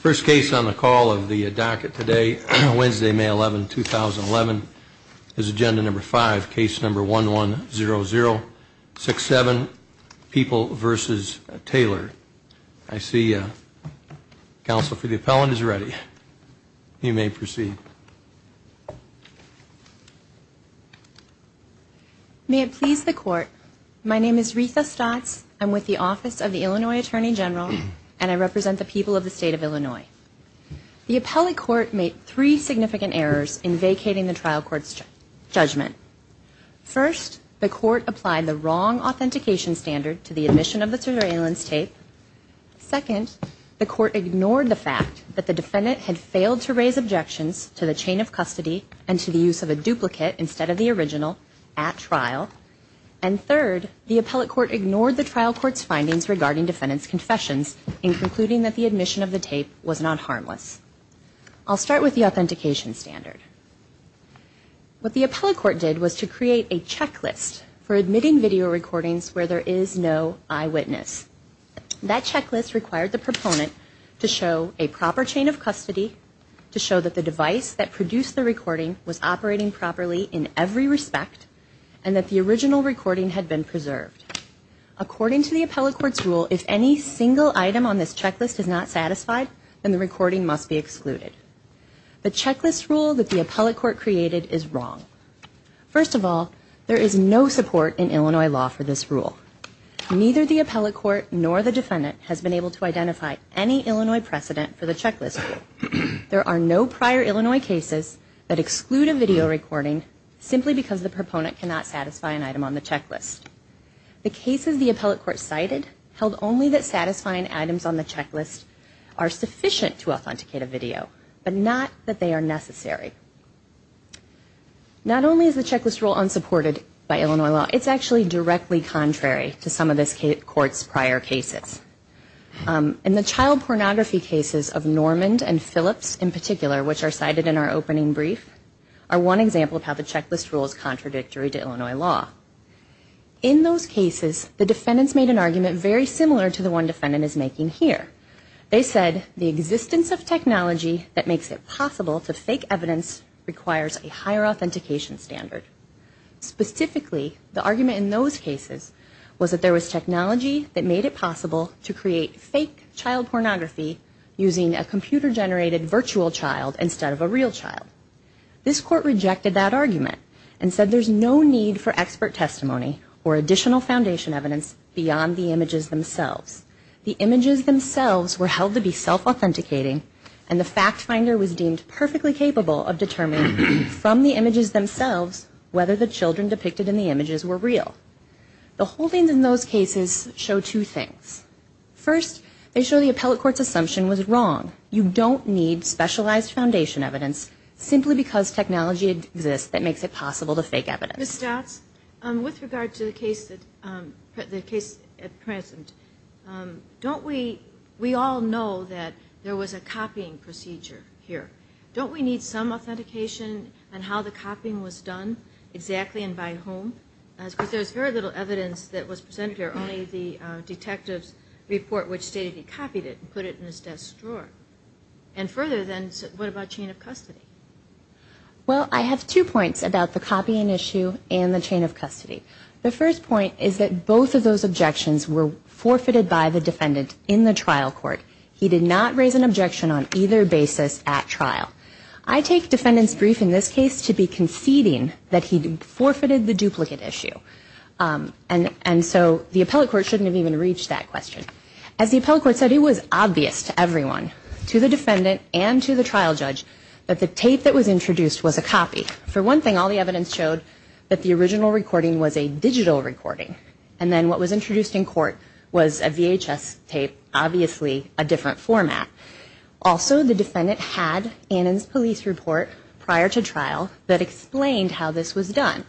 First case on the call of the docket today, Wednesday, May 11, 2011, is Agenda No. 5, Case No. 110067, People v. Taylor. I see counsel for the appellant is ready. You may proceed. May it please the court, my name is Rita Stotz, I'm with the Office of the Illinois Attorney General, and I represent the people of the state of Illinois. The appellate court made three significant errors in vacating the trial court's judgment. First, the court applied the wrong authentication standard to the admission of the surveillance tape. Second, the court ignored the fact that the defendant had failed to raise objections to the chain of custody and to the use of a duplicate instead of the original at trial. And third, the appellate court ignored the trial court's findings regarding defendant's confessions in concluding that the admission of the tape was not harmless. I'll start with the authentication standard. What the appellate court did was to create a checklist for admitting video recordings where there is no eyewitness. That checklist required the proponent to show a proper chain of custody, to show that the device that produced the recording was operating properly in every respect, and that the original recording had been preserved. According to the appellate court's rule, if any single item on this checklist is not satisfied, then the recording must be excluded. The checklist rule that the appellate court created is wrong. First of all, there is no support in Illinois law for this rule. Neither the appellate court nor the defendant has been able to identify any Illinois precedent for the checklist rule. There are no prior Illinois cases that exclude a video recording simply because the proponent cannot satisfy an item on the checklist. The cases the appellate court cited held only that satisfying items on the checklist are sufficient to authenticate a video, but not that they are necessary. Not only is the checklist rule unsupported by Illinois law, it's actually directly contrary to some of this court's prior cases. In the child pornography cases of Norman and Phillips in particular, which are cited in our opening brief, are one example of how the checklist rule is contradictory to Illinois law. In those cases, the defendants made an argument very similar to the one defendant is making here. They said the existence of technology that makes it possible to fake evidence requires a higher authentication standard. Specifically, the argument in those cases was that there was technology that made it possible to create fake child pornography using a computer-generated virtual child instead of a real child. This court rejected that argument and said there's no need for expert testimony or additional foundation evidence beyond the images themselves. The images themselves were held to be self-authenticating and the fact finder was deemed perfectly capable of determining from the images themselves whether the children depicted in the images were real. The holdings in those cases show two things. First, they show the appellate court's assumption was wrong. You don't need specialized foundation evidence simply because technology exists that makes it possible to fake evidence. Ms. Stotz, with regard to the case at present, don't we all know that there was a copying procedure here? Don't we need some authentication on how the copying was done exactly and by whom? Because there's very little evidence that was presented here, only the detective's report which stated he copied it and put it in his desk drawer. And further, then, what about chain of custody? Well, I have two points about the copying issue and the chain of custody. The first point is that both of those objections were forfeited by the defendant in the trial court. He did not raise an objection on either basis at trial. I take defendant's brief in this case to be conceding that he forfeited the duplicate issue. And so the appellate court shouldn't have even reached that question. As the appellate court said, it was obvious to everyone, to the defendant and to the trial judge, that the tape that was introduced was a copy. For one thing, all the evidence showed that the original recording was a digital recording. And then what was introduced in court was a VHS tape, obviously a different format. Also, the defendant had Annan's police report prior to trial that explained how this was done.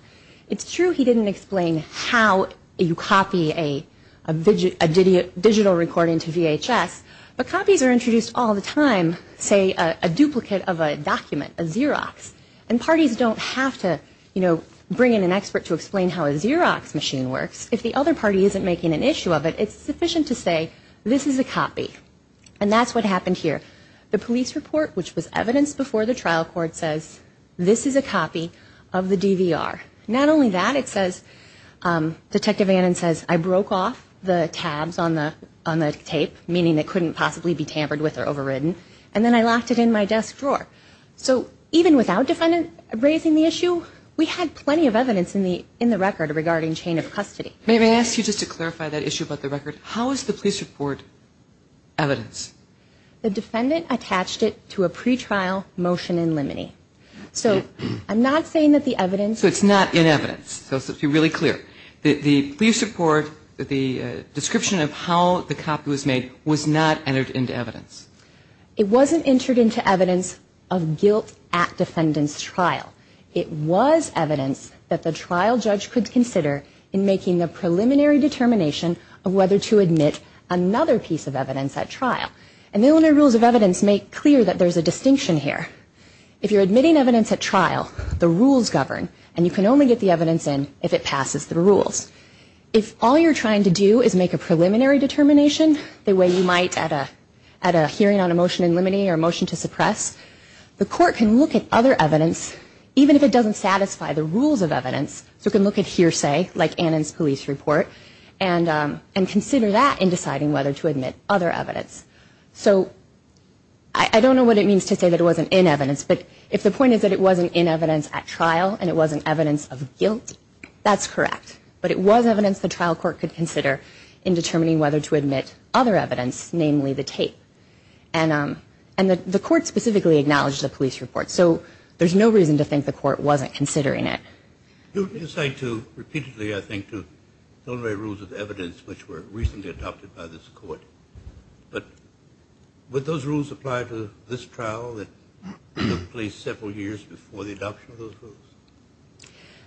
It's true he didn't explain how you copy a digital recording to VHS, but copies are introduced all the time, say a duplicate of a document, a Xerox. And parties don't have to, you know, bring in an expert to explain how a Xerox machine works. If the other party isn't making an issue of it, it's sufficient to say this is a copy. And that's what happened here. The police report, which was evidence before the trial court, says this is a copy of the DVR. Not only that, it says, Detective Annan says, I broke off the tabs on the tape, meaning it couldn't possibly be tampered with or overridden, and then I locked it in my desk drawer. So even without defendant raising the issue, we had plenty of evidence in the record regarding chain of custody. May I ask you just to clarify that issue about the record? How is the police report evidence? The defendant attached it to a pretrial motion in limine. So I'm not saying that the evidence... So it's not in evidence. So let's be really clear. The police report, the description of how the copy was made was not entered into evidence. It wasn't entered into evidence of guilt at defendant's trial. It was evidence that the trial judge could consider in making the preliminary determination of whether to admit another piece of evidence at trial. And the Illinois Rules of Evidence make clear that there's a distinction here. If you're admitting evidence at trial, the rules govern, and you can only get the evidence in if it passes the rules. If all you're trying to do is make a preliminary determination, the way you might at a hearing on a motion in limine or a motion to suppress, the court can look at other evidence, even if it doesn't satisfy the rules of evidence, so it can look at hearsay, like Annan's police report, and consider that in deciding whether to admit other evidence. So I don't know what it means to say that it wasn't in evidence, but if the point is that it wasn't in evidence at trial and it wasn't evidence of guilt, that's correct. But it was evidence the trial court could consider in determining whether to admit other evidence, namely the tape. And the court specifically acknowledged the police report, so there's no reason to think the court wasn't considering it. You say to repeatedly, I think, to Illinois Rules of Evidence, which were recently adopted by this court, but would those rules apply to this trial that took place several years before the adoption of those rules?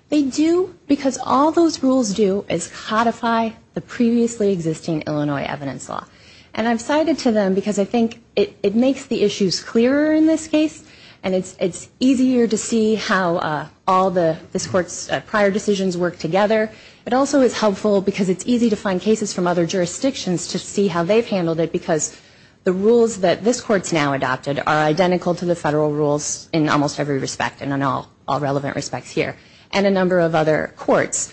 They do, because all those rules do is codify the previously existing Illinois evidence law. And I've cited to them because I think it makes the issues clearer in this case, and it's easier to see how all this court's prior decisions work together. It also is helpful because it's easy to find cases from other jurisdictions to see how they've handled it, because the rules that this court's now adopted are identical to the federal rules in almost every respect, and in all relevant respects here, and a number of other courts.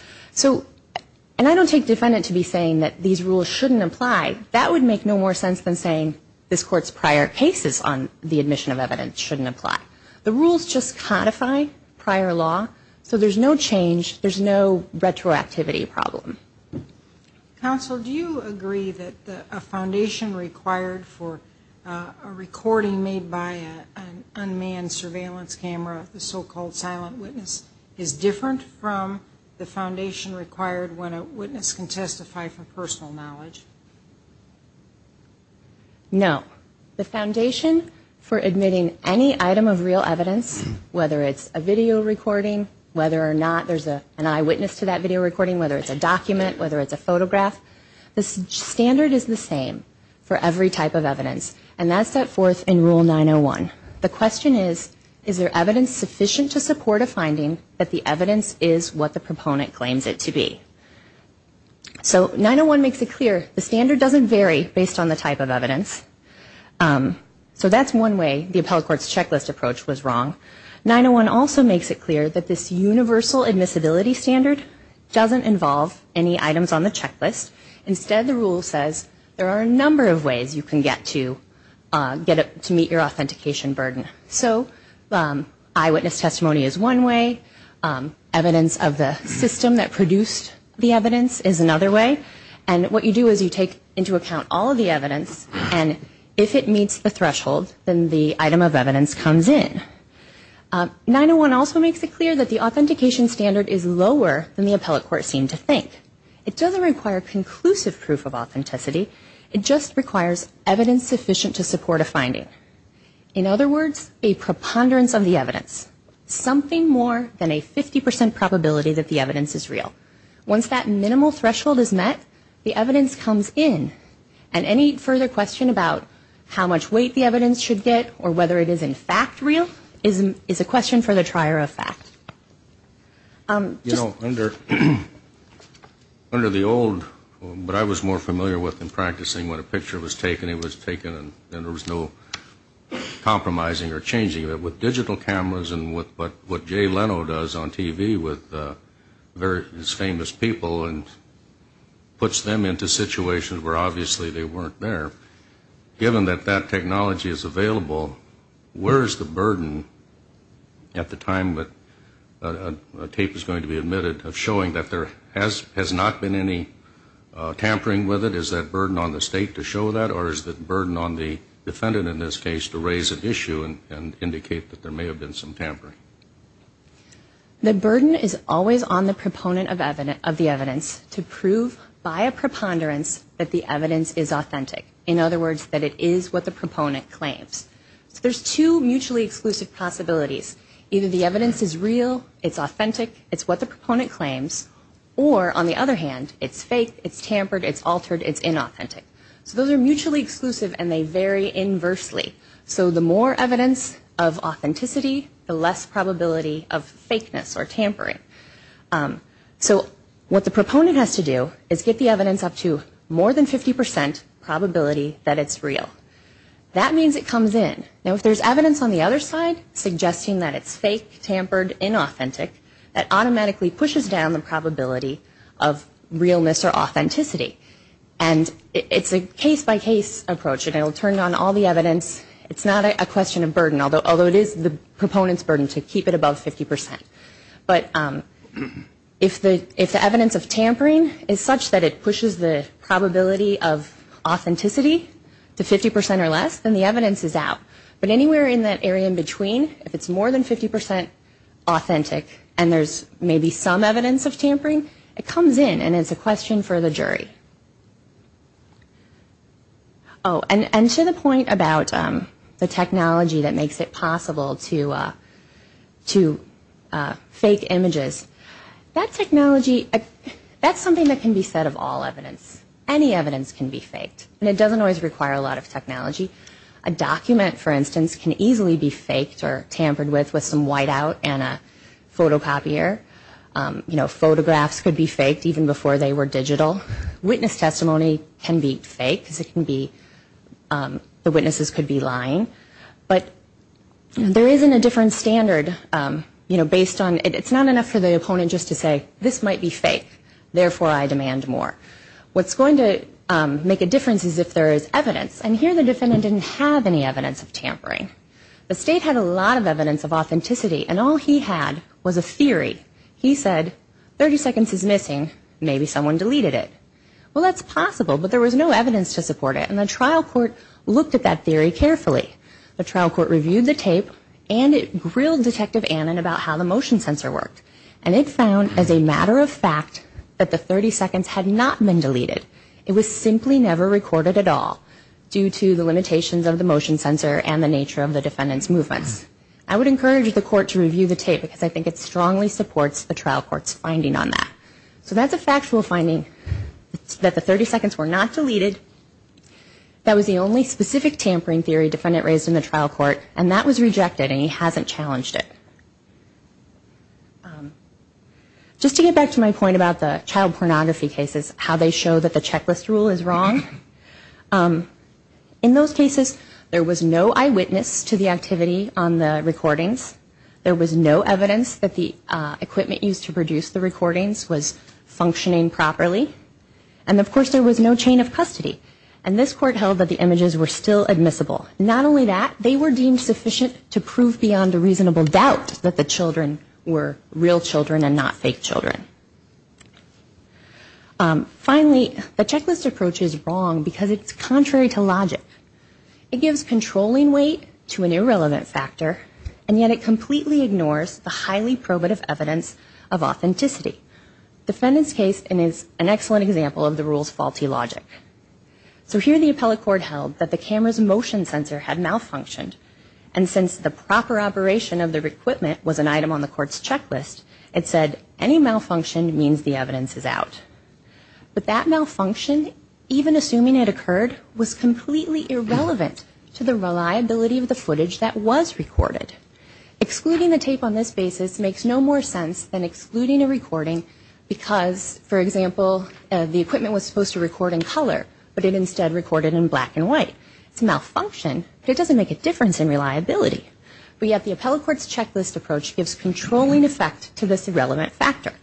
And I don't take defendant to be saying that these rules shouldn't apply. That would make no more sense than saying this court's prior cases on the admission of evidence shouldn't apply. The rules just codify prior law, so there's no change, there's no retroactivity problem. Counsel, do you agree that a foundation required for a recording made by an unmanned surveillance camera, the so-called silent witness, is different from the foundation required when a witness can testify for personal knowledge? No. The foundation for admitting any item of real evidence, whether it's a video recording, whether or not there's an eyewitness to that video recording, whether it's a document, whether it's a photograph, the standard is the same for every type of evidence, and that's set forth in Rule 901. The question is, is there evidence sufficient to support a finding that the evidence is what the proponent claims it to be? So 901 makes it clear the standard doesn't vary based on the type of evidence. So that's one way the appellate court's checklist approach was wrong. 901 also makes it clear that this universal admissibility standard doesn't involve any items on the checklist. Instead, the rule says there are a number of ways you can get to meet your authentication burden. So eyewitness testimony is one way. Evidence of the system that produced the evidence is another way. And what you do is you take into account all of the evidence, and if it meets the threshold, then the item of evidence comes in. 901 also makes it clear that the authentication standard is lower than the appellate court seemed to think. It doesn't require conclusive proof of authenticity. It just requires evidence sufficient to support a finding. In other words, a preponderance of the evidence, something more than a 50% probability that the evidence is real. Once that minimal threshold is met, the evidence comes in. And any further question about how much weight the evidence should get or whether it is in fact real is a question for the trier of fact. You know, under the old, what I was more familiar with in practicing, when a picture was taken, it was taken and there was no compromising or changing it. With digital cameras and what Jay Leno does on TV with his famous people and puts them into situations where obviously they weren't there, given that that technology is available, where is the burden at the time that a tape is going to be admitted of showing that there has not been any tampering with it? Is that burden on the state to show that? Or is that burden on the defendant in this case to raise an issue and indicate that there may have been some tampering? The burden is always on the proponent of the evidence to prove by a preponderance that the evidence is authentic. In other words, that it is what the proponent claims. So there's two mutually exclusive possibilities. Either the evidence is real, it's authentic, it's what the proponent claims, or on the other hand, it's fake, it's tampered, it's altered, it's inauthentic. So those are mutually exclusive and they vary inversely. So the more evidence of authenticity, the less probability of fakeness or tampering. So what the proponent has to do is get the evidence up to more than 50% probability that it's real. That means it comes in. Now if there's evidence on the other side suggesting that it's fake, tampered, inauthentic, that automatically pushes down the probability of realness or authenticity. And it's a case-by-case approach. It will turn on all the evidence. It's not a question of burden, although it is the proponent's burden to keep it above 50%. But if the evidence of tampering is such that it pushes the probability of authenticity to 50% or less, then the evidence is out. But anywhere in that area in between, if it's more than 50% authentic and there's maybe some evidence of tampering, it comes in and it's a question for the jury. Oh, and to the point about the technology that makes it possible to fake images, that technology, that's something that can be said of all evidence. Any evidence can be faked. And it doesn't always require a lot of technology. A document, for instance, can easily be faked or tampered with with some whiteout and a photocopier. You know, photographs could be faked even before they were digital. Witness testimony can be faked because it can be, the witnesses could be lying. But there isn't a different standard, you know, based on, it's not enough for the opponent just to say, this might be fake, therefore I demand more. What's going to make a difference is if there is evidence. And here the defendant didn't have any evidence of tampering. The state had a lot of evidence of authenticity, and all he had was a theory. He said, 30 seconds is missing, maybe someone deleted it. Well, that's possible, but there was no evidence to support it. And the trial court looked at that theory carefully. The trial court reviewed the tape, and it grilled Detective Annan about how the motion sensor worked. And it found, as a matter of fact, that the 30 seconds had not been deleted. It was simply never recorded at all due to the limitations of the motion sensor and the nature of the defendant's movements. I would encourage the court to review the tape, because I think it strongly supports the trial court's finding on that. So that's a factual finding, that the 30 seconds were not deleted. That was the only specific tampering theory defendant raised in the trial court, and that was rejected, and he hasn't challenged it. Just to get back to my point about the child pornography cases, how they show that the checklist rule is wrong, in those cases, there was no eyewitness to the activity on the recordings. There was no evidence that the equipment used to produce the recordings was functioning properly. And, of course, there was no chain of custody. And this court held that the images were still admissible. Not only that, they were deemed sufficient to prove beyond a reasonable doubt that the children were real children and not fake children. Finally, the checklist approach is wrong because it's contrary to logic. It gives controlling weight to an irrelevant factor, and yet it completely ignores the highly probative evidence of authenticity. The defendant's case is an excellent example of the rule's faulty logic. So here the appellate court held that the camera's motion sensor had malfunctioned, and since the proper operation of the equipment was an item on the court's checklist, it said any malfunction means the evidence is out. But that malfunction, even assuming it occurred, was completely irrelevant to the reliability of the footage that was recorded. Excluding the tape on this basis makes no more sense than excluding a recording because, for example, the equipment was supposed to record in color, but it instead recorded in black and white. It's a malfunction, but it doesn't make a difference in reliability. But yet the appellate court's checklist approach gives controlling effect to this irrelevant factor.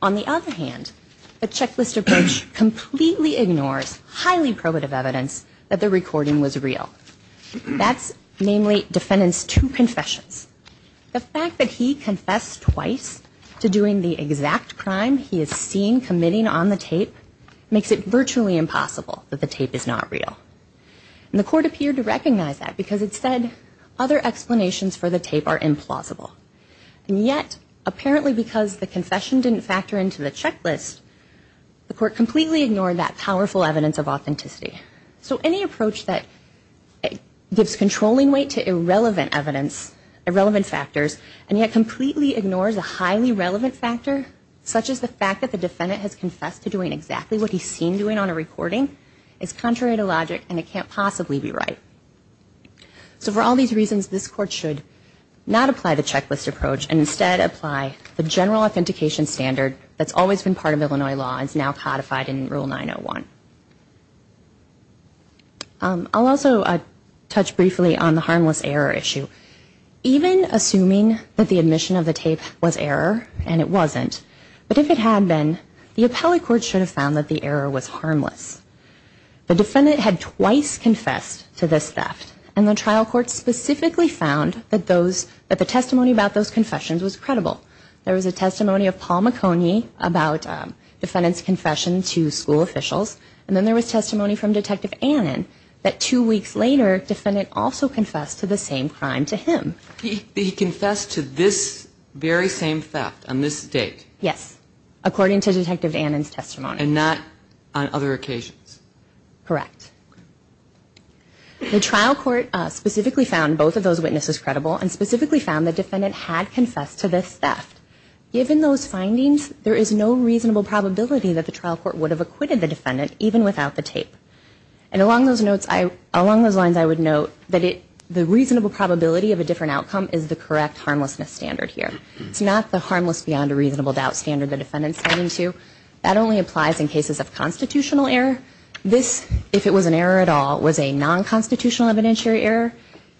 On the other hand, the checklist approach completely ignores highly probative evidence that the recording was real. That's namely defendant's two confessions. The fact that he confessed twice to doing the exact crime he is seen committing on the tape makes it virtually impossible that the tape is not real. And the court appeared to recognize that because it said other explanations for the tape are implausible. And yet, apparently because the confession didn't factor into the checklist, the court completely ignored that powerful evidence of authenticity. So any approach that gives controlling weight to irrelevant evidence, irrelevant factors, and yet completely ignores a highly relevant factor, such as the fact that the defendant has confessed to doing exactly what he's seen doing on a recording, is contrary to logic and it can't possibly be right. So for all these reasons, this court should not apply the checklist approach and instead apply the general authentication standard that's always been part of Illinois law and is now codified in Rule 901. I'll also touch briefly on the harmless error issue. Even assuming that the admission of the tape was error, and it wasn't, but if it had been, the appellate court should have found that the error was harmless. The defendant had twice confessed to this theft, and the trial court specifically found that the testimony about those confessions was credible. There was a testimony of Paul McConey about defendant's confession to school officials, and then there was testimony from Detective Annan that two weeks later, defendant also confessed to the same crime to him. He confessed to this very same theft on this date? Yes, according to Detective Annan's testimony. And not on other occasions? Correct. The trial court specifically found both of those witnesses credible and specifically found the defendant had confessed to this theft. Given those findings, there is no reasonable probability that the trial court would have acquitted the defendant, even without the tape. And along those lines, I would note that the reasonable probability of a different outcome is the correct harmlessness standard here. It's not the harmless beyond a reasonable doubt standard the defendant is standing to. That only applies in cases of constitutional error. This, if it was an error at all, was a non-constitutional evidentiary error,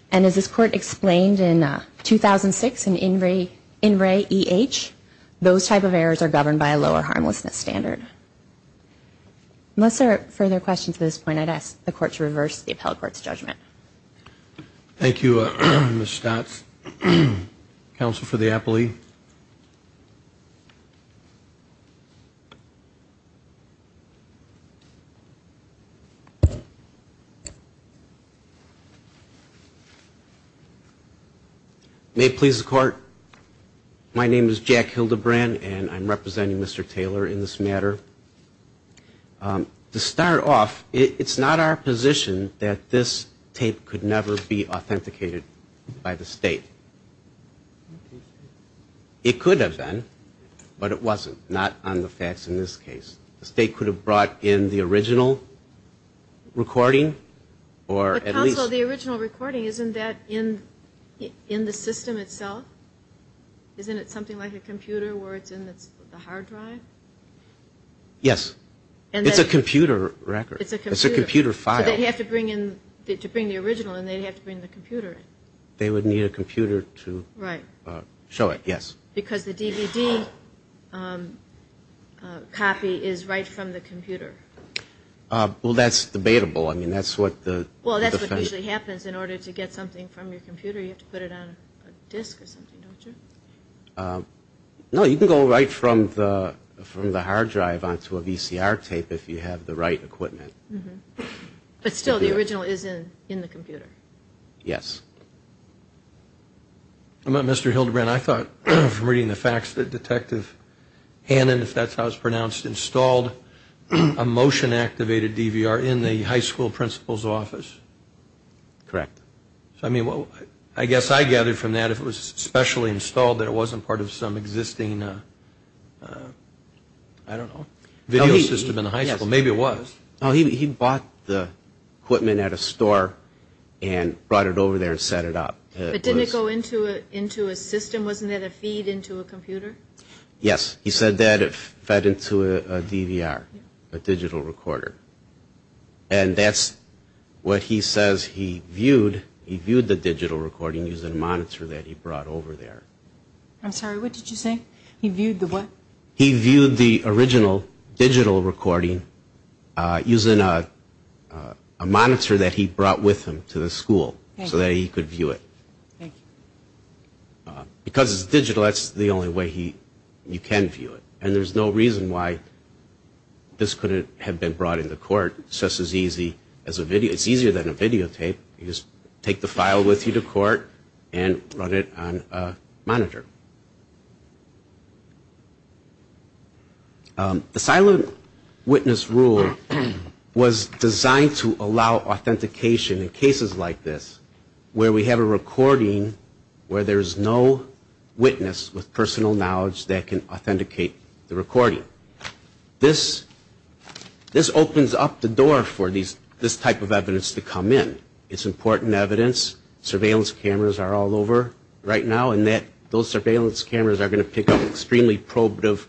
and as this court explained in 2006 in In Re Eh, those type of errors are governed by a lower harmlessness standard. Unless there are further questions at this point, I'd ask the court to reverse the appellate court's judgment. Thank you, Ms. Stotz. Counsel for the appellee. May it please the court, my name is Jack Hildebrand, and I'm representing Mr. Taylor in this matter. To start off, it's not our position that this tape could never be authenticated by the state. It could have been, but it wasn't, not on the facts in this case. The state could have brought in the original recording or at least the original recording. Isn't that in the system itself? Isn't it something like a computer where it's in the hard drive? Yes. It's a computer record. It's a computer file. So they'd have to bring in the original and they'd have to bring the computer in. They would need a computer to show it, yes. Because the DVD copy is right from the computer. Well, that's debatable. I mean, that's what the- Well, that's what usually happens. In order to get something from your computer, you have to put it on a disc or something, don't you? No, you can go right from the hard drive onto a VCR tape if you have the right equipment. But still, the original is in the computer. Yes. Mr. Hildebrand, I thought from reading the facts that Detective Hannon, if that's how it's pronounced, installed a motion-activated DVR in the high school principal's office. Correct. I mean, I guess I gathered from that if it was specially installed that it wasn't part of some existing, I don't know, video system in the high school. Yes. Maybe it was. No, he bought the equipment at a store and brought it over there and set it up. But didn't it go into a system? Wasn't it a feed into a computer? Yes. He said that it fed into a DVR, a digital recorder. And that's what he says he viewed. He viewed the digital recording using a monitor that he brought over there. I'm sorry, what did you say? He viewed the what? He viewed the original digital recording using a monitor that he brought with him to the school so that he could view it. Thank you. Because it's digital, that's the only way you can view it. And there's no reason why this couldn't have been brought into court. It's just as easy as a video. It's easier than a videotape. You just take the file with you to court and run it on a monitor. The silent witness rule was designed to allow authentication in cases like this where we have a recording where there's no witness with personal knowledge that can authenticate the recording. This opens up the door for this type of evidence to come in. It's important evidence. Surveillance cameras are all over right now. And those surveillance cameras are going to pick up extremely probative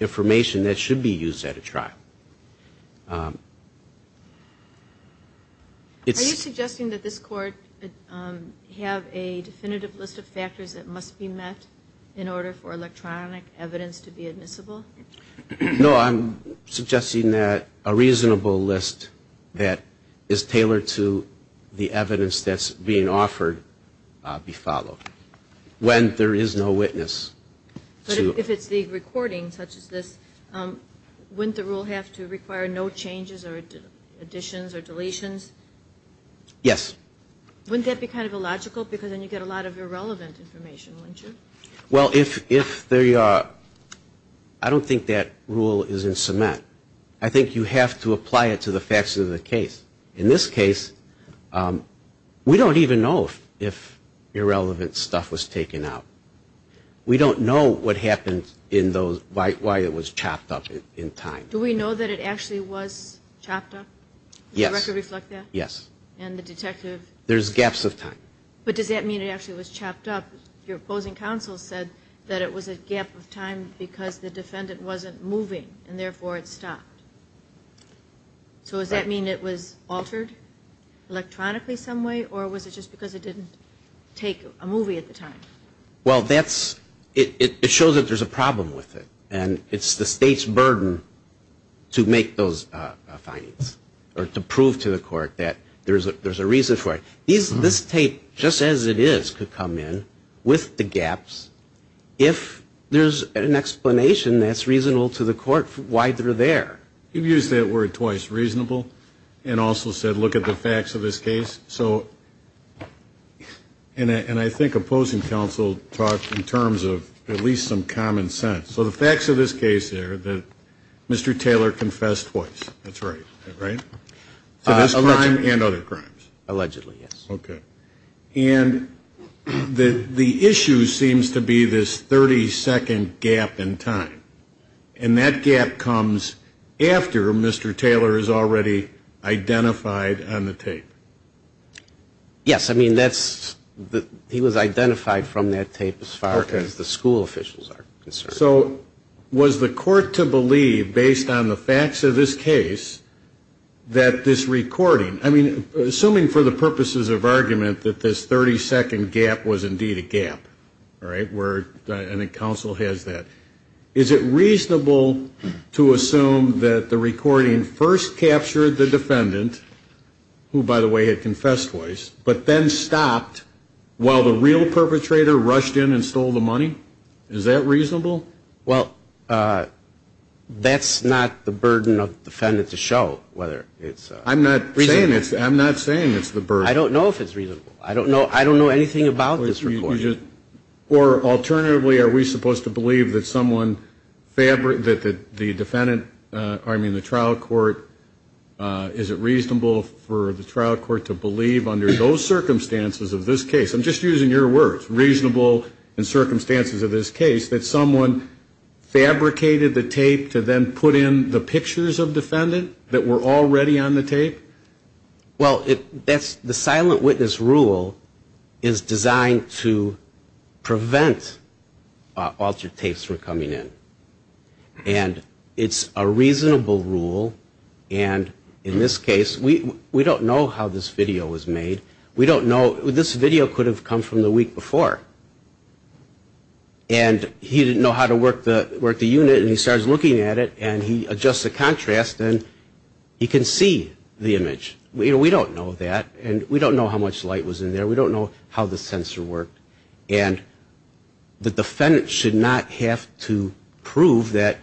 information that should be used at a trial. Are you suggesting that this Court have a definitive list of factors that must be met in order for electronic evidence to be admissible? No, I'm suggesting that a reasonable list that is tailored to the evidence that's being offered be followed when there is no witness. But if it's the recording such as this, wouldn't the rule have to require no changes or additions or deletions? Yes. Wouldn't that be kind of illogical because then you get a lot of irrelevant information, wouldn't you? Well, if there are, I don't think that rule is in cement. I think you have to apply it to the facts of the case. In this case, we don't even know if irrelevant stuff was taken out. We don't know what happened in those, why it was chopped up in time. Do we know that it actually was chopped up? Yes. Does the record reflect that? Yes. And the detective? There's gaps of time. But does that mean it actually was chopped up? Your opposing counsel said that it was a gap of time because the defendant wasn't moving and therefore it stopped. So does that mean it was altered electronically some way or was it just because it didn't take a movie at the time? Well, that's, it shows that there's a problem with it. And it's the State's burden to make those findings or to prove to the Court that there's a reason for it. This tape, just as it is, could come in with the gaps if there's an explanation that's reasonable to the Court why they're there. You've used that word twice, reasonable, and also said look at the facts of this case. So, and I think opposing counsel talked in terms of at least some common sense. So the facts of this case are that Mr. Taylor confessed twice. That's right. Right? To this crime and other crimes. Allegedly, yes. Okay. And the issue seems to be this 30-second gap in time. And that gap comes after Mr. Taylor is already identified on the tape. Yes, I mean that's, he was identified from that tape as far as the school officials are concerned. So was the Court to believe based on the facts of this case that this recording, I mean, assuming for the purposes of argument that this 30-second gap was indeed a gap, right, where I think counsel has that, is it reasonable to assume that the recording first captured the defendant, who by the way had confessed twice, but then stopped while the real perpetrator rushed in and stole the money? Is that reasonable? Well, that's not the burden of the defendant to show whether it's reasonable. I'm not saying it's the burden. I don't know if it's reasonable. I don't know anything about this recording. Or alternatively, are we supposed to believe that someone fabric, that the defendant, I mean the trial court, is it reasonable for the trial court to believe under those circumstances of this case? I'm just using your words. Reasonable in circumstances of this case that someone fabricated the tape to then put in the pictures of the defendant that were already on the tape? Well, that's, the silent witness rule is designed to prevent altered tapes from coming in. And it's a reasonable rule. And in this case, we don't know how this video was made. We don't know, this video could have come from the week before. And he didn't know how to work the unit, and he starts looking at it, and he adjusts the contrast, and he can see the image. We don't know that. And we don't know how much light was in there. We don't know how the sensor worked. And the defendant should not have to prove that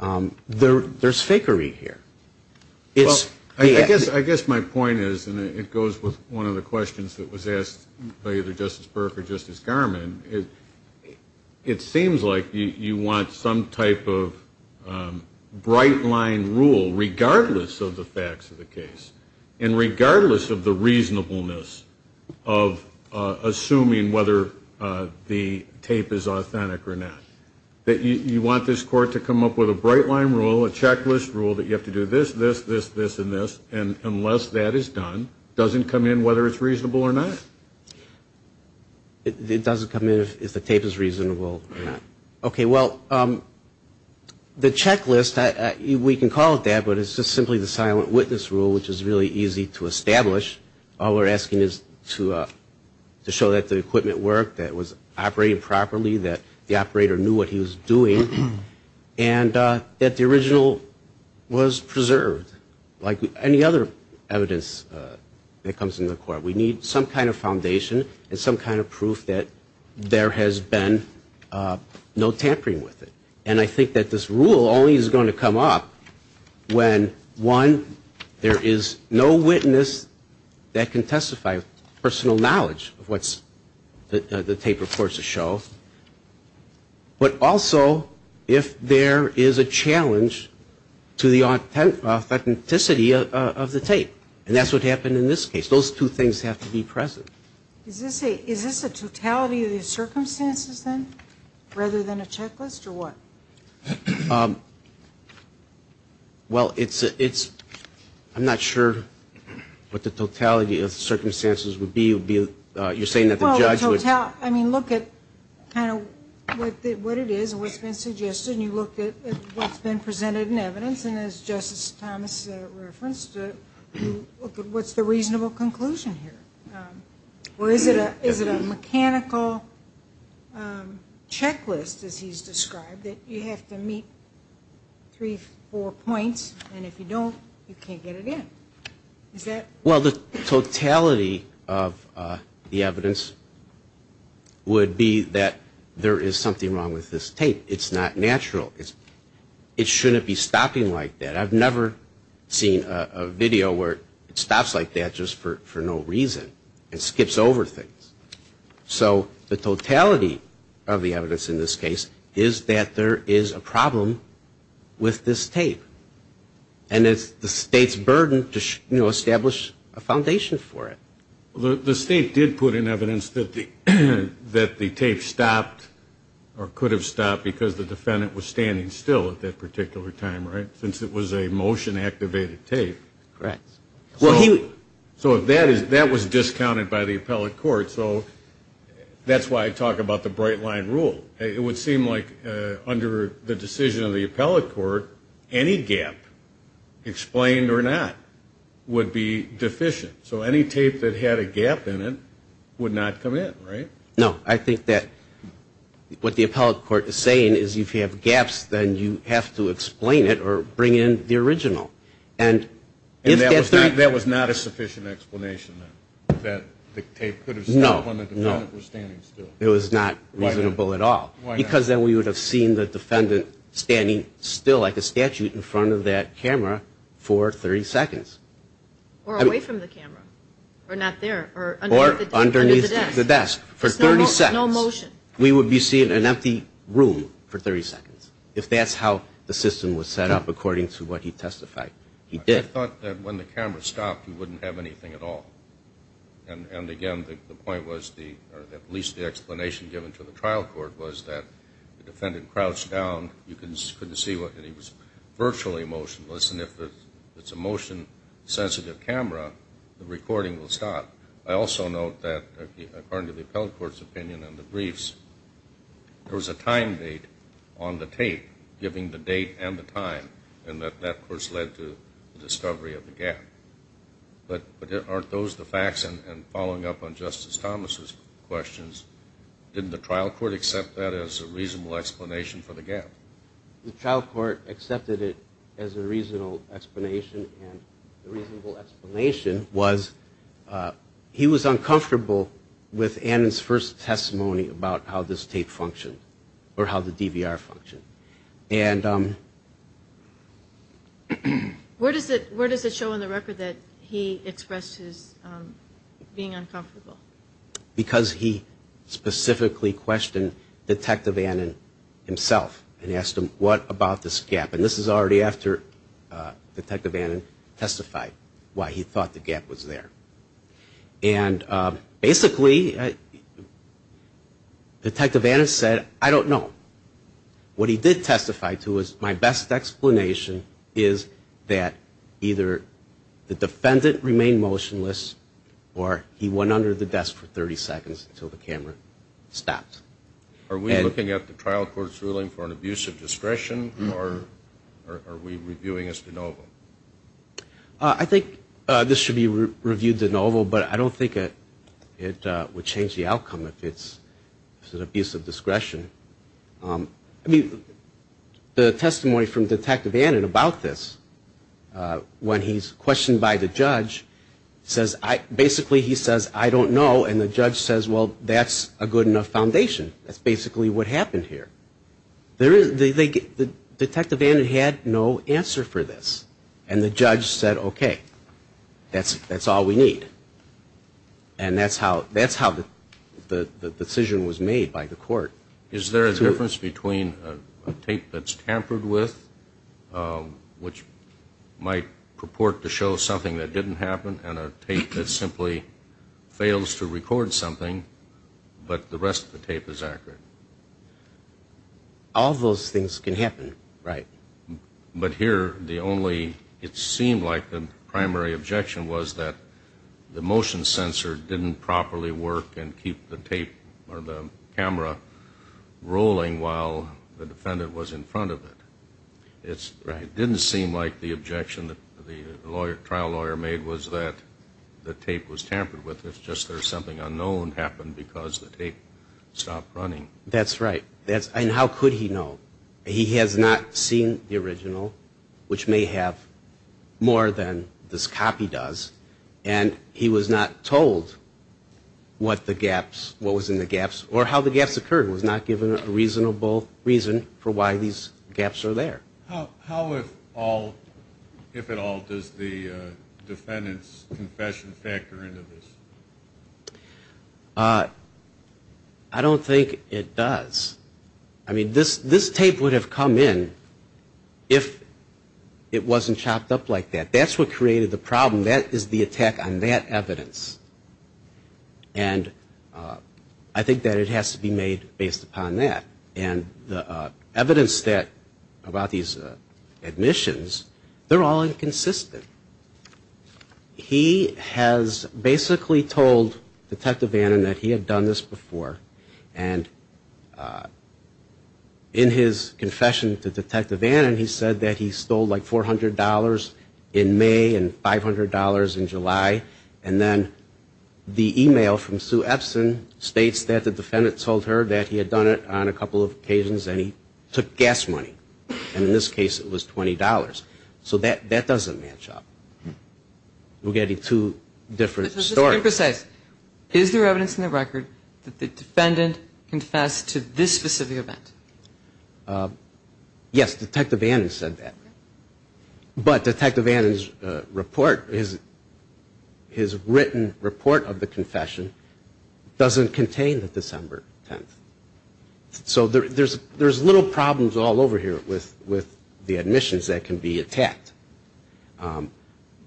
there's fakery here. I guess my point is, and it goes with one of the questions that was asked by either Justice Burke or Justice Garman, it seems like you want some type of bright-line rule, regardless of the facts of the case, and regardless of the reasonableness of assuming whether the tape is authentic or not, that you want this court to come up with a bright-line rule, a checklist rule, that you have to do this, this, this, this, and this, and unless that is done, it doesn't come in whether it's reasonable or not. It doesn't come in if the tape is reasonable or not. Okay, well, the checklist, we can call it that, but it's just simply the silent witness rule, which is really easy to establish. All we're asking is to show that the equipment worked, that it was operating properly, that the operator knew what he was doing, and that the original was preserved, like any other evidence that comes into the court. We need some kind of foundation and some kind of proof that there has been no tampering with it. And I think that this rule only is going to come up when, one, there is no witness that can testify with personal knowledge of what the tape reports show, but also if there is a challenge to the authenticity of the tape. And that's what happened in this case. Those two things have to be present. Is this a totality of the circumstances, then, rather than a checklist, or what? Well, it's a, it's, I'm not sure what the totality of circumstances would be. You're saying that the judge would. I mean, look at kind of what it is and what's been suggested, and you look at what's been presented in evidence, and as Justice Thomas referenced, what's the reasonable conclusion here? Or is it a mechanical checklist, as he's described, that you have to meet three, four points, and if you don't, you can't get it in? Is that? Well, the totality of the evidence would be that there is something wrong with this tape. It's not natural. It shouldn't be stopping like that. I've never seen a video where it stops like that just for no reason and skips over things. So the totality of the evidence in this case is that there is a problem with this tape, and it's the State's burden to, you know, establish a foundation for it. The State did put in evidence that the tape stopped or could have stopped because the defendant was standing still at that particular time, right, since it was a motion-activated tape. Correct. So that was discounted by the appellate court, so that's why I talk about the bright-line rule. It would seem like under the decision of the appellate court, any gap, explained or not, would be deficient. So any tape that had a gap in it would not come in, right? No. I think that what the appellate court is saying is if you have gaps, then you have to explain it or bring in the original. And that was not a sufficient explanation, then, that the tape could have stopped when the defendant was standing still? No. It was not reasonable at all. Why not? Because then we would have seen the defendant standing still like a statute in front of that camera for 30 seconds. Or away from the camera, or not there, or underneath the desk. Or underneath the desk for 30 seconds. No motion. We would be seeing an empty room for 30 seconds if that's how the system was set up according to what he testified. He did. I thought that when the camera stopped, he wouldn't have anything at all. And, again, the point was, or at least the explanation given to the trial court, was that the defendant crouched down, you couldn't see, and he was virtually motionless. And if it's a motion-sensitive camera, the recording will stop. I also note that, according to the appellate court's opinion on the briefs, there was a time date on the tape giving the date and the time, and that, of course, led to the discovery of the gap. But aren't those the facts? And following up on Justice Thomas' questions, didn't the trial court accept that as a reasonable explanation for the gap? The trial court accepted it as a reasonable explanation, and the reasonable explanation was he was uncomfortable with Annan's first testimony about how this tape functioned, or how the DVR functioned. Where does it show in the record that he expressed his being uncomfortable? Because he specifically questioned Detective Annan himself and asked him, what about this gap? And this is already after Detective Annan testified why he thought the gap was there. And, basically, Detective Annan said, I don't know. What he did testify to was, my best explanation is that either the defendant remained motionless or he went under the desk for 30 seconds until the camera stopped. Are we looking at the trial court's ruling for an abuse of discretion, or are we reviewing as de novo? I think this should be reviewed as de novo, but I don't think it would change the outcome if it's an abuse of discretion. I mean, the testimony from Detective Annan about this, when he's questioned by the judge, basically he says, I don't know, and the judge says, well, that's a good enough foundation. That's basically what happened here. Detective Annan had no answer for this, and the judge said, okay, that's all we need. And that's how the decision was made by the court. Is there a difference between a tape that's tampered with, which might purport to show something that didn't happen, and a tape that simply fails to record something, but the rest of the tape is accurate? All those things can happen, right. But here the only, it seemed like the primary objection was that the motion sensor didn't properly work and keep the tape or the camera rolling while the defendant was in front of it. It didn't seem like the objection that the trial lawyer made was that the tape was tampered with. It's just there's something unknown happened because the tape stopped running. That's right. And how could he know? He has not seen the original, which may have more than this copy does, and he was not told what was in the gaps or how the gaps occurred. He was not given a reasonable reason for why these gaps are there. How, if at all, does the defendant's confession factor into this? I don't think it does. I mean, this tape would have come in if it wasn't chopped up like that. That's what created the problem. That is the attack on that evidence, and I think that it has to be made based upon that. And the evidence about these admissions, they're all inconsistent. He has basically told Detective Vannon that he had done this before, and in his confession to Detective Vannon, he said that he stole like $400 in May and $500 in July, and then the e-mail from Sue Epson states that the defendant told her that he had done it on a couple of occasions and he took gas money, and in this case it was $20. So that doesn't match up. We're getting two different stories. Just to be precise, is there evidence in the record that the defendant confessed to this specific event? Yes, Detective Vannon said that. But Detective Vannon's report, his written report of the confession, doesn't contain the December 10th. So there's little problems all over here with the admissions that can be attacked.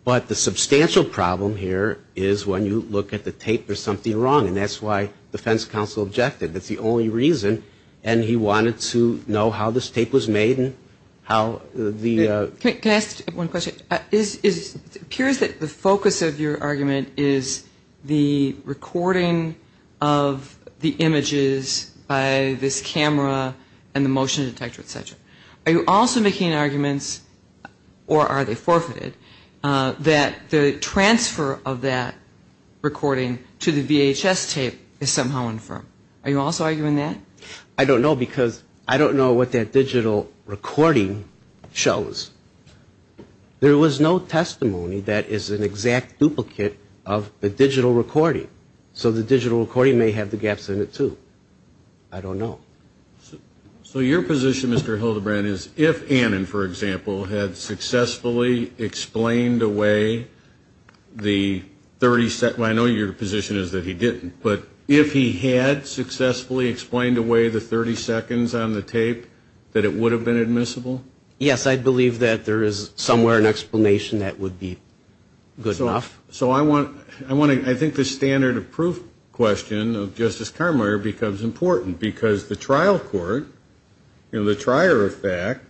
But the substantial problem here is when you look at the tape, there's something wrong, and that's why defense counsel objected. That's the only reason, and he wanted to know how this tape was made and how the ---- Can I ask one question? It appears that the focus of your argument is the recording of the images by this camera and the motion detector, etc. Are you also making arguments, or are they forfeited, that the transfer of that recording to the VHS tape is somehow infirm? Are you also arguing that? I don't know because I don't know what that digital recording shows. There was no testimony that is an exact duplicate of the digital recording. So the digital recording may have the gaps in it, too. I don't know. So your position, Mr. Hildebrand, is if Annan, for example, had successfully explained away the 30 seconds ---- I know your position is that he didn't. But if he had successfully explained away the 30 seconds on the tape, that it would have been admissible? Yes, I believe that there is somewhere an explanation that would be good enough. So I want to ---- I think the standard of proof question of Justice Karrmeier becomes important because the trial court, in the trier of fact,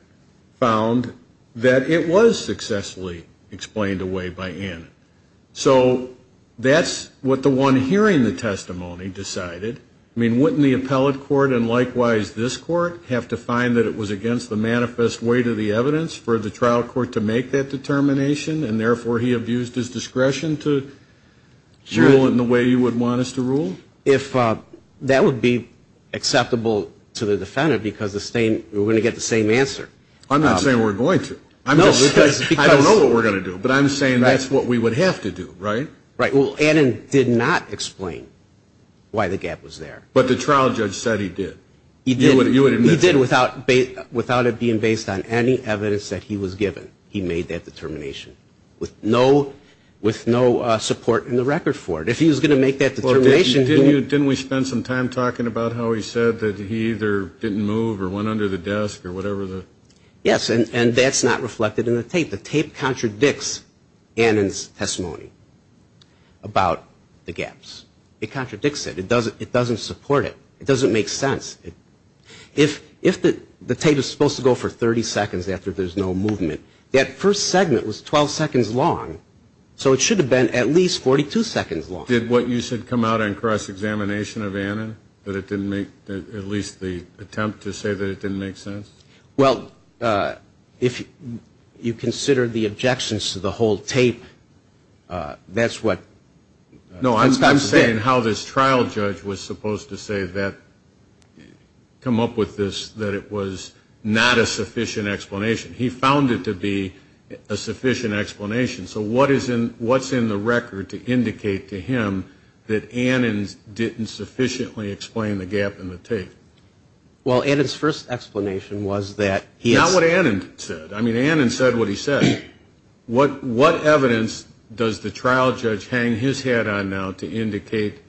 found that it was successfully explained away by Annan. So that's what the one hearing the testimony decided. I mean, wouldn't the appellate court and likewise this court have to find that it was against the manifest weight of the evidence for the trial court to make that determination, and therefore he abused his discretion to rule in the way you would want us to rule? If that would be acceptable to the defendant because we're going to get the same answer. I'm not saying we're going to. I don't know what we're going to do, but I'm saying that's what we would have to do, right? Right. Well, Annan did not explain why the gap was there. But the trial judge said he did. He did. He did without it being based on any evidence that he was given. He made that determination with no support in the record for it. If he was going to make that determination ---- Didn't we spend some time talking about how he said that he either didn't move or went under the desk or whatever the ---- Yes, and that's not reflected in the tape. The tape contradicts Annan's testimony about the gaps. It contradicts it. It doesn't support it. It doesn't make sense. If the tape is supposed to go for 30 seconds after there's no movement, that first segment was 12 seconds long, so it should have been at least 42 seconds long. Did what you said come out on cross-examination of Annan, that it didn't make at least the attempt to say that it didn't make sense? Well, if you consider the objections to the whole tape, that's what ---- No, I'm saying how this trial judge was supposed to say that, come up with this, that it was not a sufficient explanation. He found it to be a sufficient explanation. So what's in the record to indicate to him that Annan didn't sufficiently explain the gap in the tape? Well, Annan's first explanation was that he ---- Not what Annan said. I mean, Annan said what he said. What evidence does the trial judge hang his head on now to indicate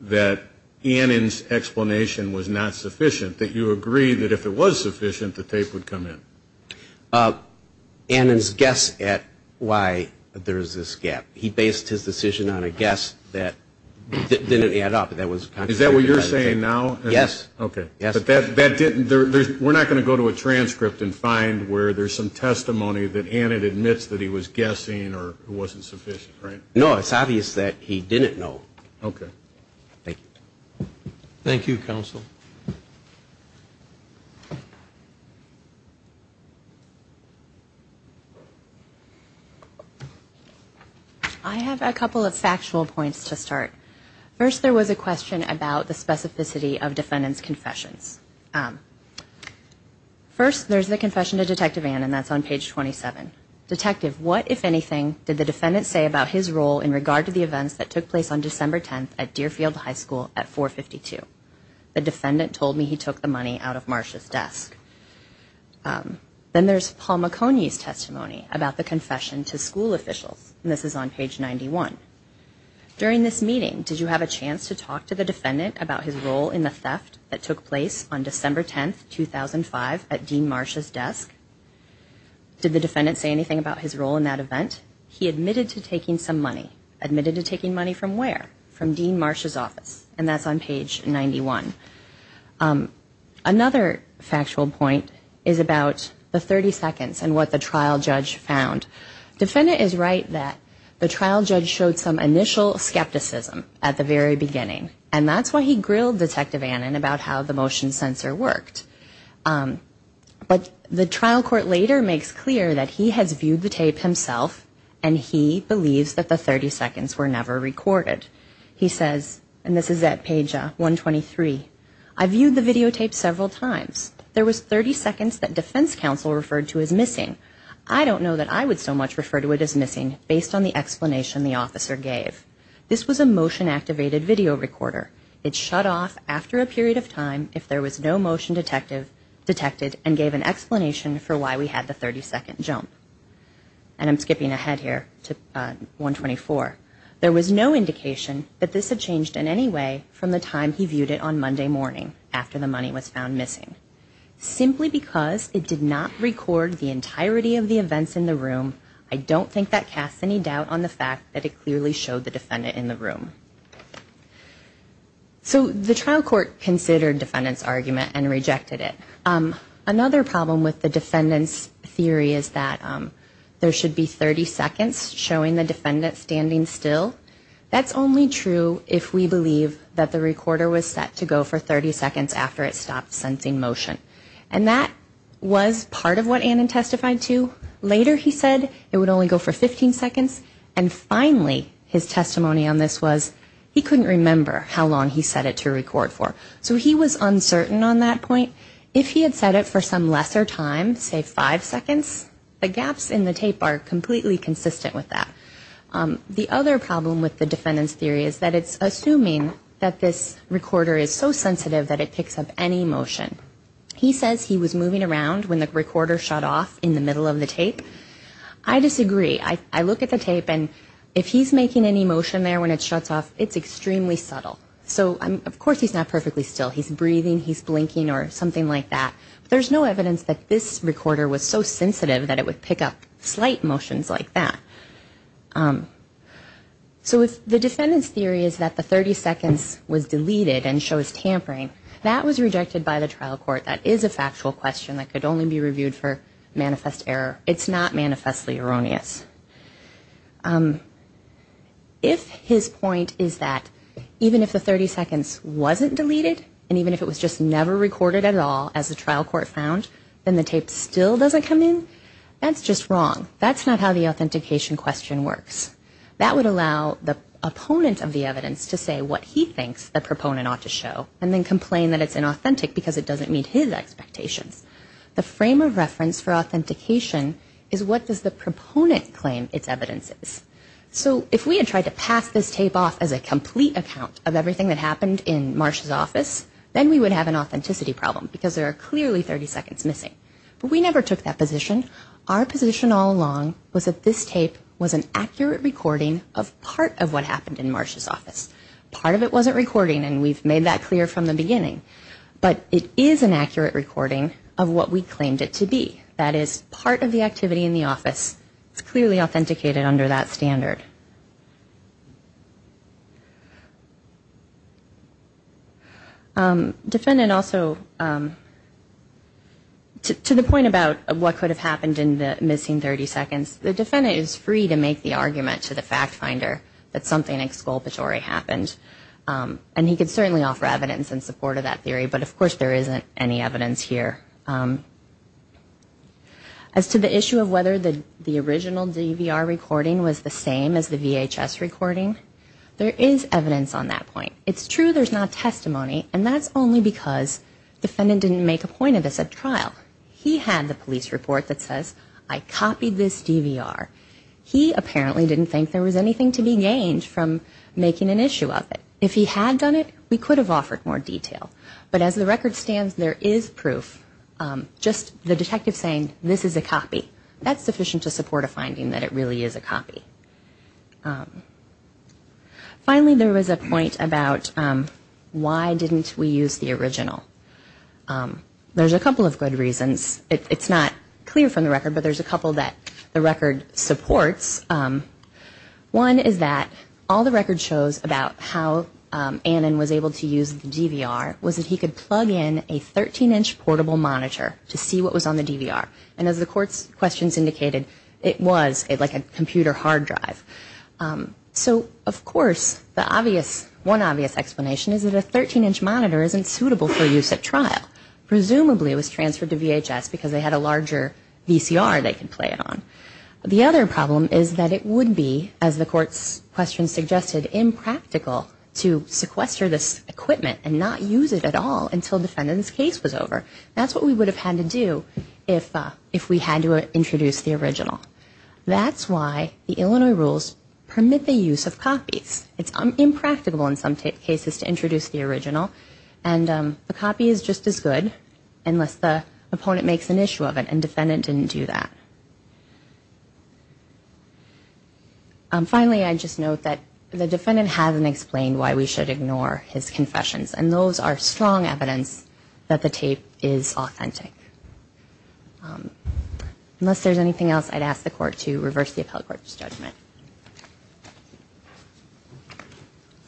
that Annan's explanation was not sufficient, that you agree that if it was sufficient, the tape would come in? Annan's guess at why there's this gap. He based his decision on a guess that didn't add up. Is that what you're saying now? Yes. Okay. But that didn't ---- We're not going to go to a transcript and find where there's some testimony that Annan admits that he was guessing or it wasn't sufficient, right? No, it's obvious that he didn't know. Okay. Thank you. Thank you, Counsel. I have a couple of factual points to start. First, there was a question about the specificity of defendant's confessions. First, there's the confession to Detective Annan. That's on page 27. Detective, what, if anything, did the defendant say about his role in regard to the events that took place on December 10th at Deerfield High School at 452? The defendant told me he took the money out of Marcia's desk. Then there's Paul McConey's testimony about the confession to school officials, and this is on page 91. During this meeting, did you have a chance to talk to the defendant about his role in the theft that took place on December 10th, 2005, at Dean Marcia's desk? Did the defendant say anything about his role in that event? He admitted to taking some money. Admitted to taking money from where? From Dean Marcia's office, and that's on page 91. Another factual point is about the 30 seconds and what the trial judge found. Defendant is right that the trial judge showed some initial skepticism at the very beginning, and that's why he grilled Detective Annan about how the motion sensor worked. But the trial court later makes clear that he has viewed the tape himself, and he believes that the 30 seconds were never recorded. He says, and this is at page 123, I viewed the videotape several times. There was 30 seconds that defense counsel referred to as missing. I don't know that I would so much refer to it as missing based on the explanation the officer gave. This was a motion-activated video recorder. It shut off after a period of time if there was no motion detected and gave an explanation for why we had the 30-second jump. And I'm skipping ahead here to 124. There was no indication that this had changed in any way from the time he viewed it on Monday morning after the money was found missing. Simply because it did not record the entirety of the events in the room, I don't think that casts any doubt on the fact that it clearly showed the defendant in the room. So the trial court considered defendant's argument and rejected it. Another problem with the defendant's theory is that there should be 30 seconds showing the defendant standing still. That's only true if we believe that the recorder was set to go for 30 seconds after it stopped sensing motion. And that was part of what Annan testified to. Later he said it would only go for 15 seconds. And finally his testimony on this was he couldn't remember how long he set it to record for. So he was uncertain on that point. If he had set it for some lesser time, say five seconds, the gaps in the tape are completely consistent with that. The other problem with the defendant's theory is that it's assuming that this recorder is so sensitive that it picks up any motion. He says he was moving around when the recorder shut off in the middle of the tape. I disagree. I look at the tape and if he's making any motion there when it shuts off, it's extremely subtle. So of course he's not perfectly still. He's breathing. He's blinking or something like that. There's no evidence that this recorder was so sensitive that it would pick up slight motions like that. So the defendant's theory is that the 30 seconds was deleted and shows tampering. That was rejected by the trial court. That is a factual question that could only be reviewed for manifest error. It's not manifestly erroneous. If his point is that even if the 30 seconds wasn't deleted and even if it was just never recorded at all as the trial court found, then the tape still doesn't come in, that's just wrong. That's not how the authentication question works. That would allow the opponent of the evidence to say what he thinks the proponent ought to show and then complain that it's inauthentic because it doesn't meet his expectations. The frame of reference for authentication is what does the proponent claim its evidence is. So if we had tried to pass this tape off as a complete account of everything that happened in Marsh's office, then we would have an authenticity problem because there are clearly 30 seconds missing. But we never took that position. Our position all along was that this tape was an accurate recording of part of what happened in Marsh's office. Part of it wasn't recording and we've made that clear from the beginning. But it is an accurate recording of what we claimed it to be. That is part of the activity in the office. It's clearly authenticated under that standard. Defendant also, to the point about what could have happened in the missing 30 seconds, the defendant is free to make the argument to the fact finder that something exculpatory happened. And he could certainly offer evidence in support of that theory, but of course there isn't any evidence here. As to the issue of whether the original DVR recording was the same as the VHS recording, there is evidence on that point. It's true there's not testimony and that's only because defendant didn't make a point of this at trial. He had the police report that says I copied this DVR. He apparently didn't think there was anything to be gained from making an issue of it. If he had done it, we could have offered more detail. But as the record stands, there is proof. Just the detective saying this is a copy, that's sufficient to support a finding that it really is a copy. Finally, there was a point about why didn't we use the original. There's a couple of good reasons. It's not clear from the record, but there's a couple that the record supports. One is that all the record shows about how Annan was able to use the DVR was that he could plug in a 13-inch portable monitor to see what was on the DVR. And as the court's questions indicated, it was like a computer hard drive. So of course, one obvious explanation is that a 13-inch monitor isn't suitable for use at trial. Presumably it was transferred to VHS because they had a larger VCR they could play it on. The other problem is that it would be, as the court's questions suggested, impractical to sequester this equipment and not use it at all until the defendant's case was over. That's what we would have had to do if we had to introduce the original. That's why the Illinois rules permit the use of copies. It's impractical in some cases to introduce the original. And the copy is just as good unless the opponent makes an issue of it and defendant didn't do that. Finally, I'd just note that the defendant hasn't explained why we should ignore his confessions, and those are strong evidence that the tape is authentic. Unless there's anything else, I'd ask the court to reverse the appellate court's judgment.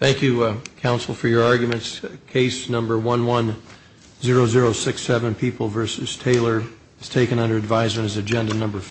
Thank you, counsel, for your arguments. Case number 11-0067, People v. Taylor, is taken under advisement as agenda number 5.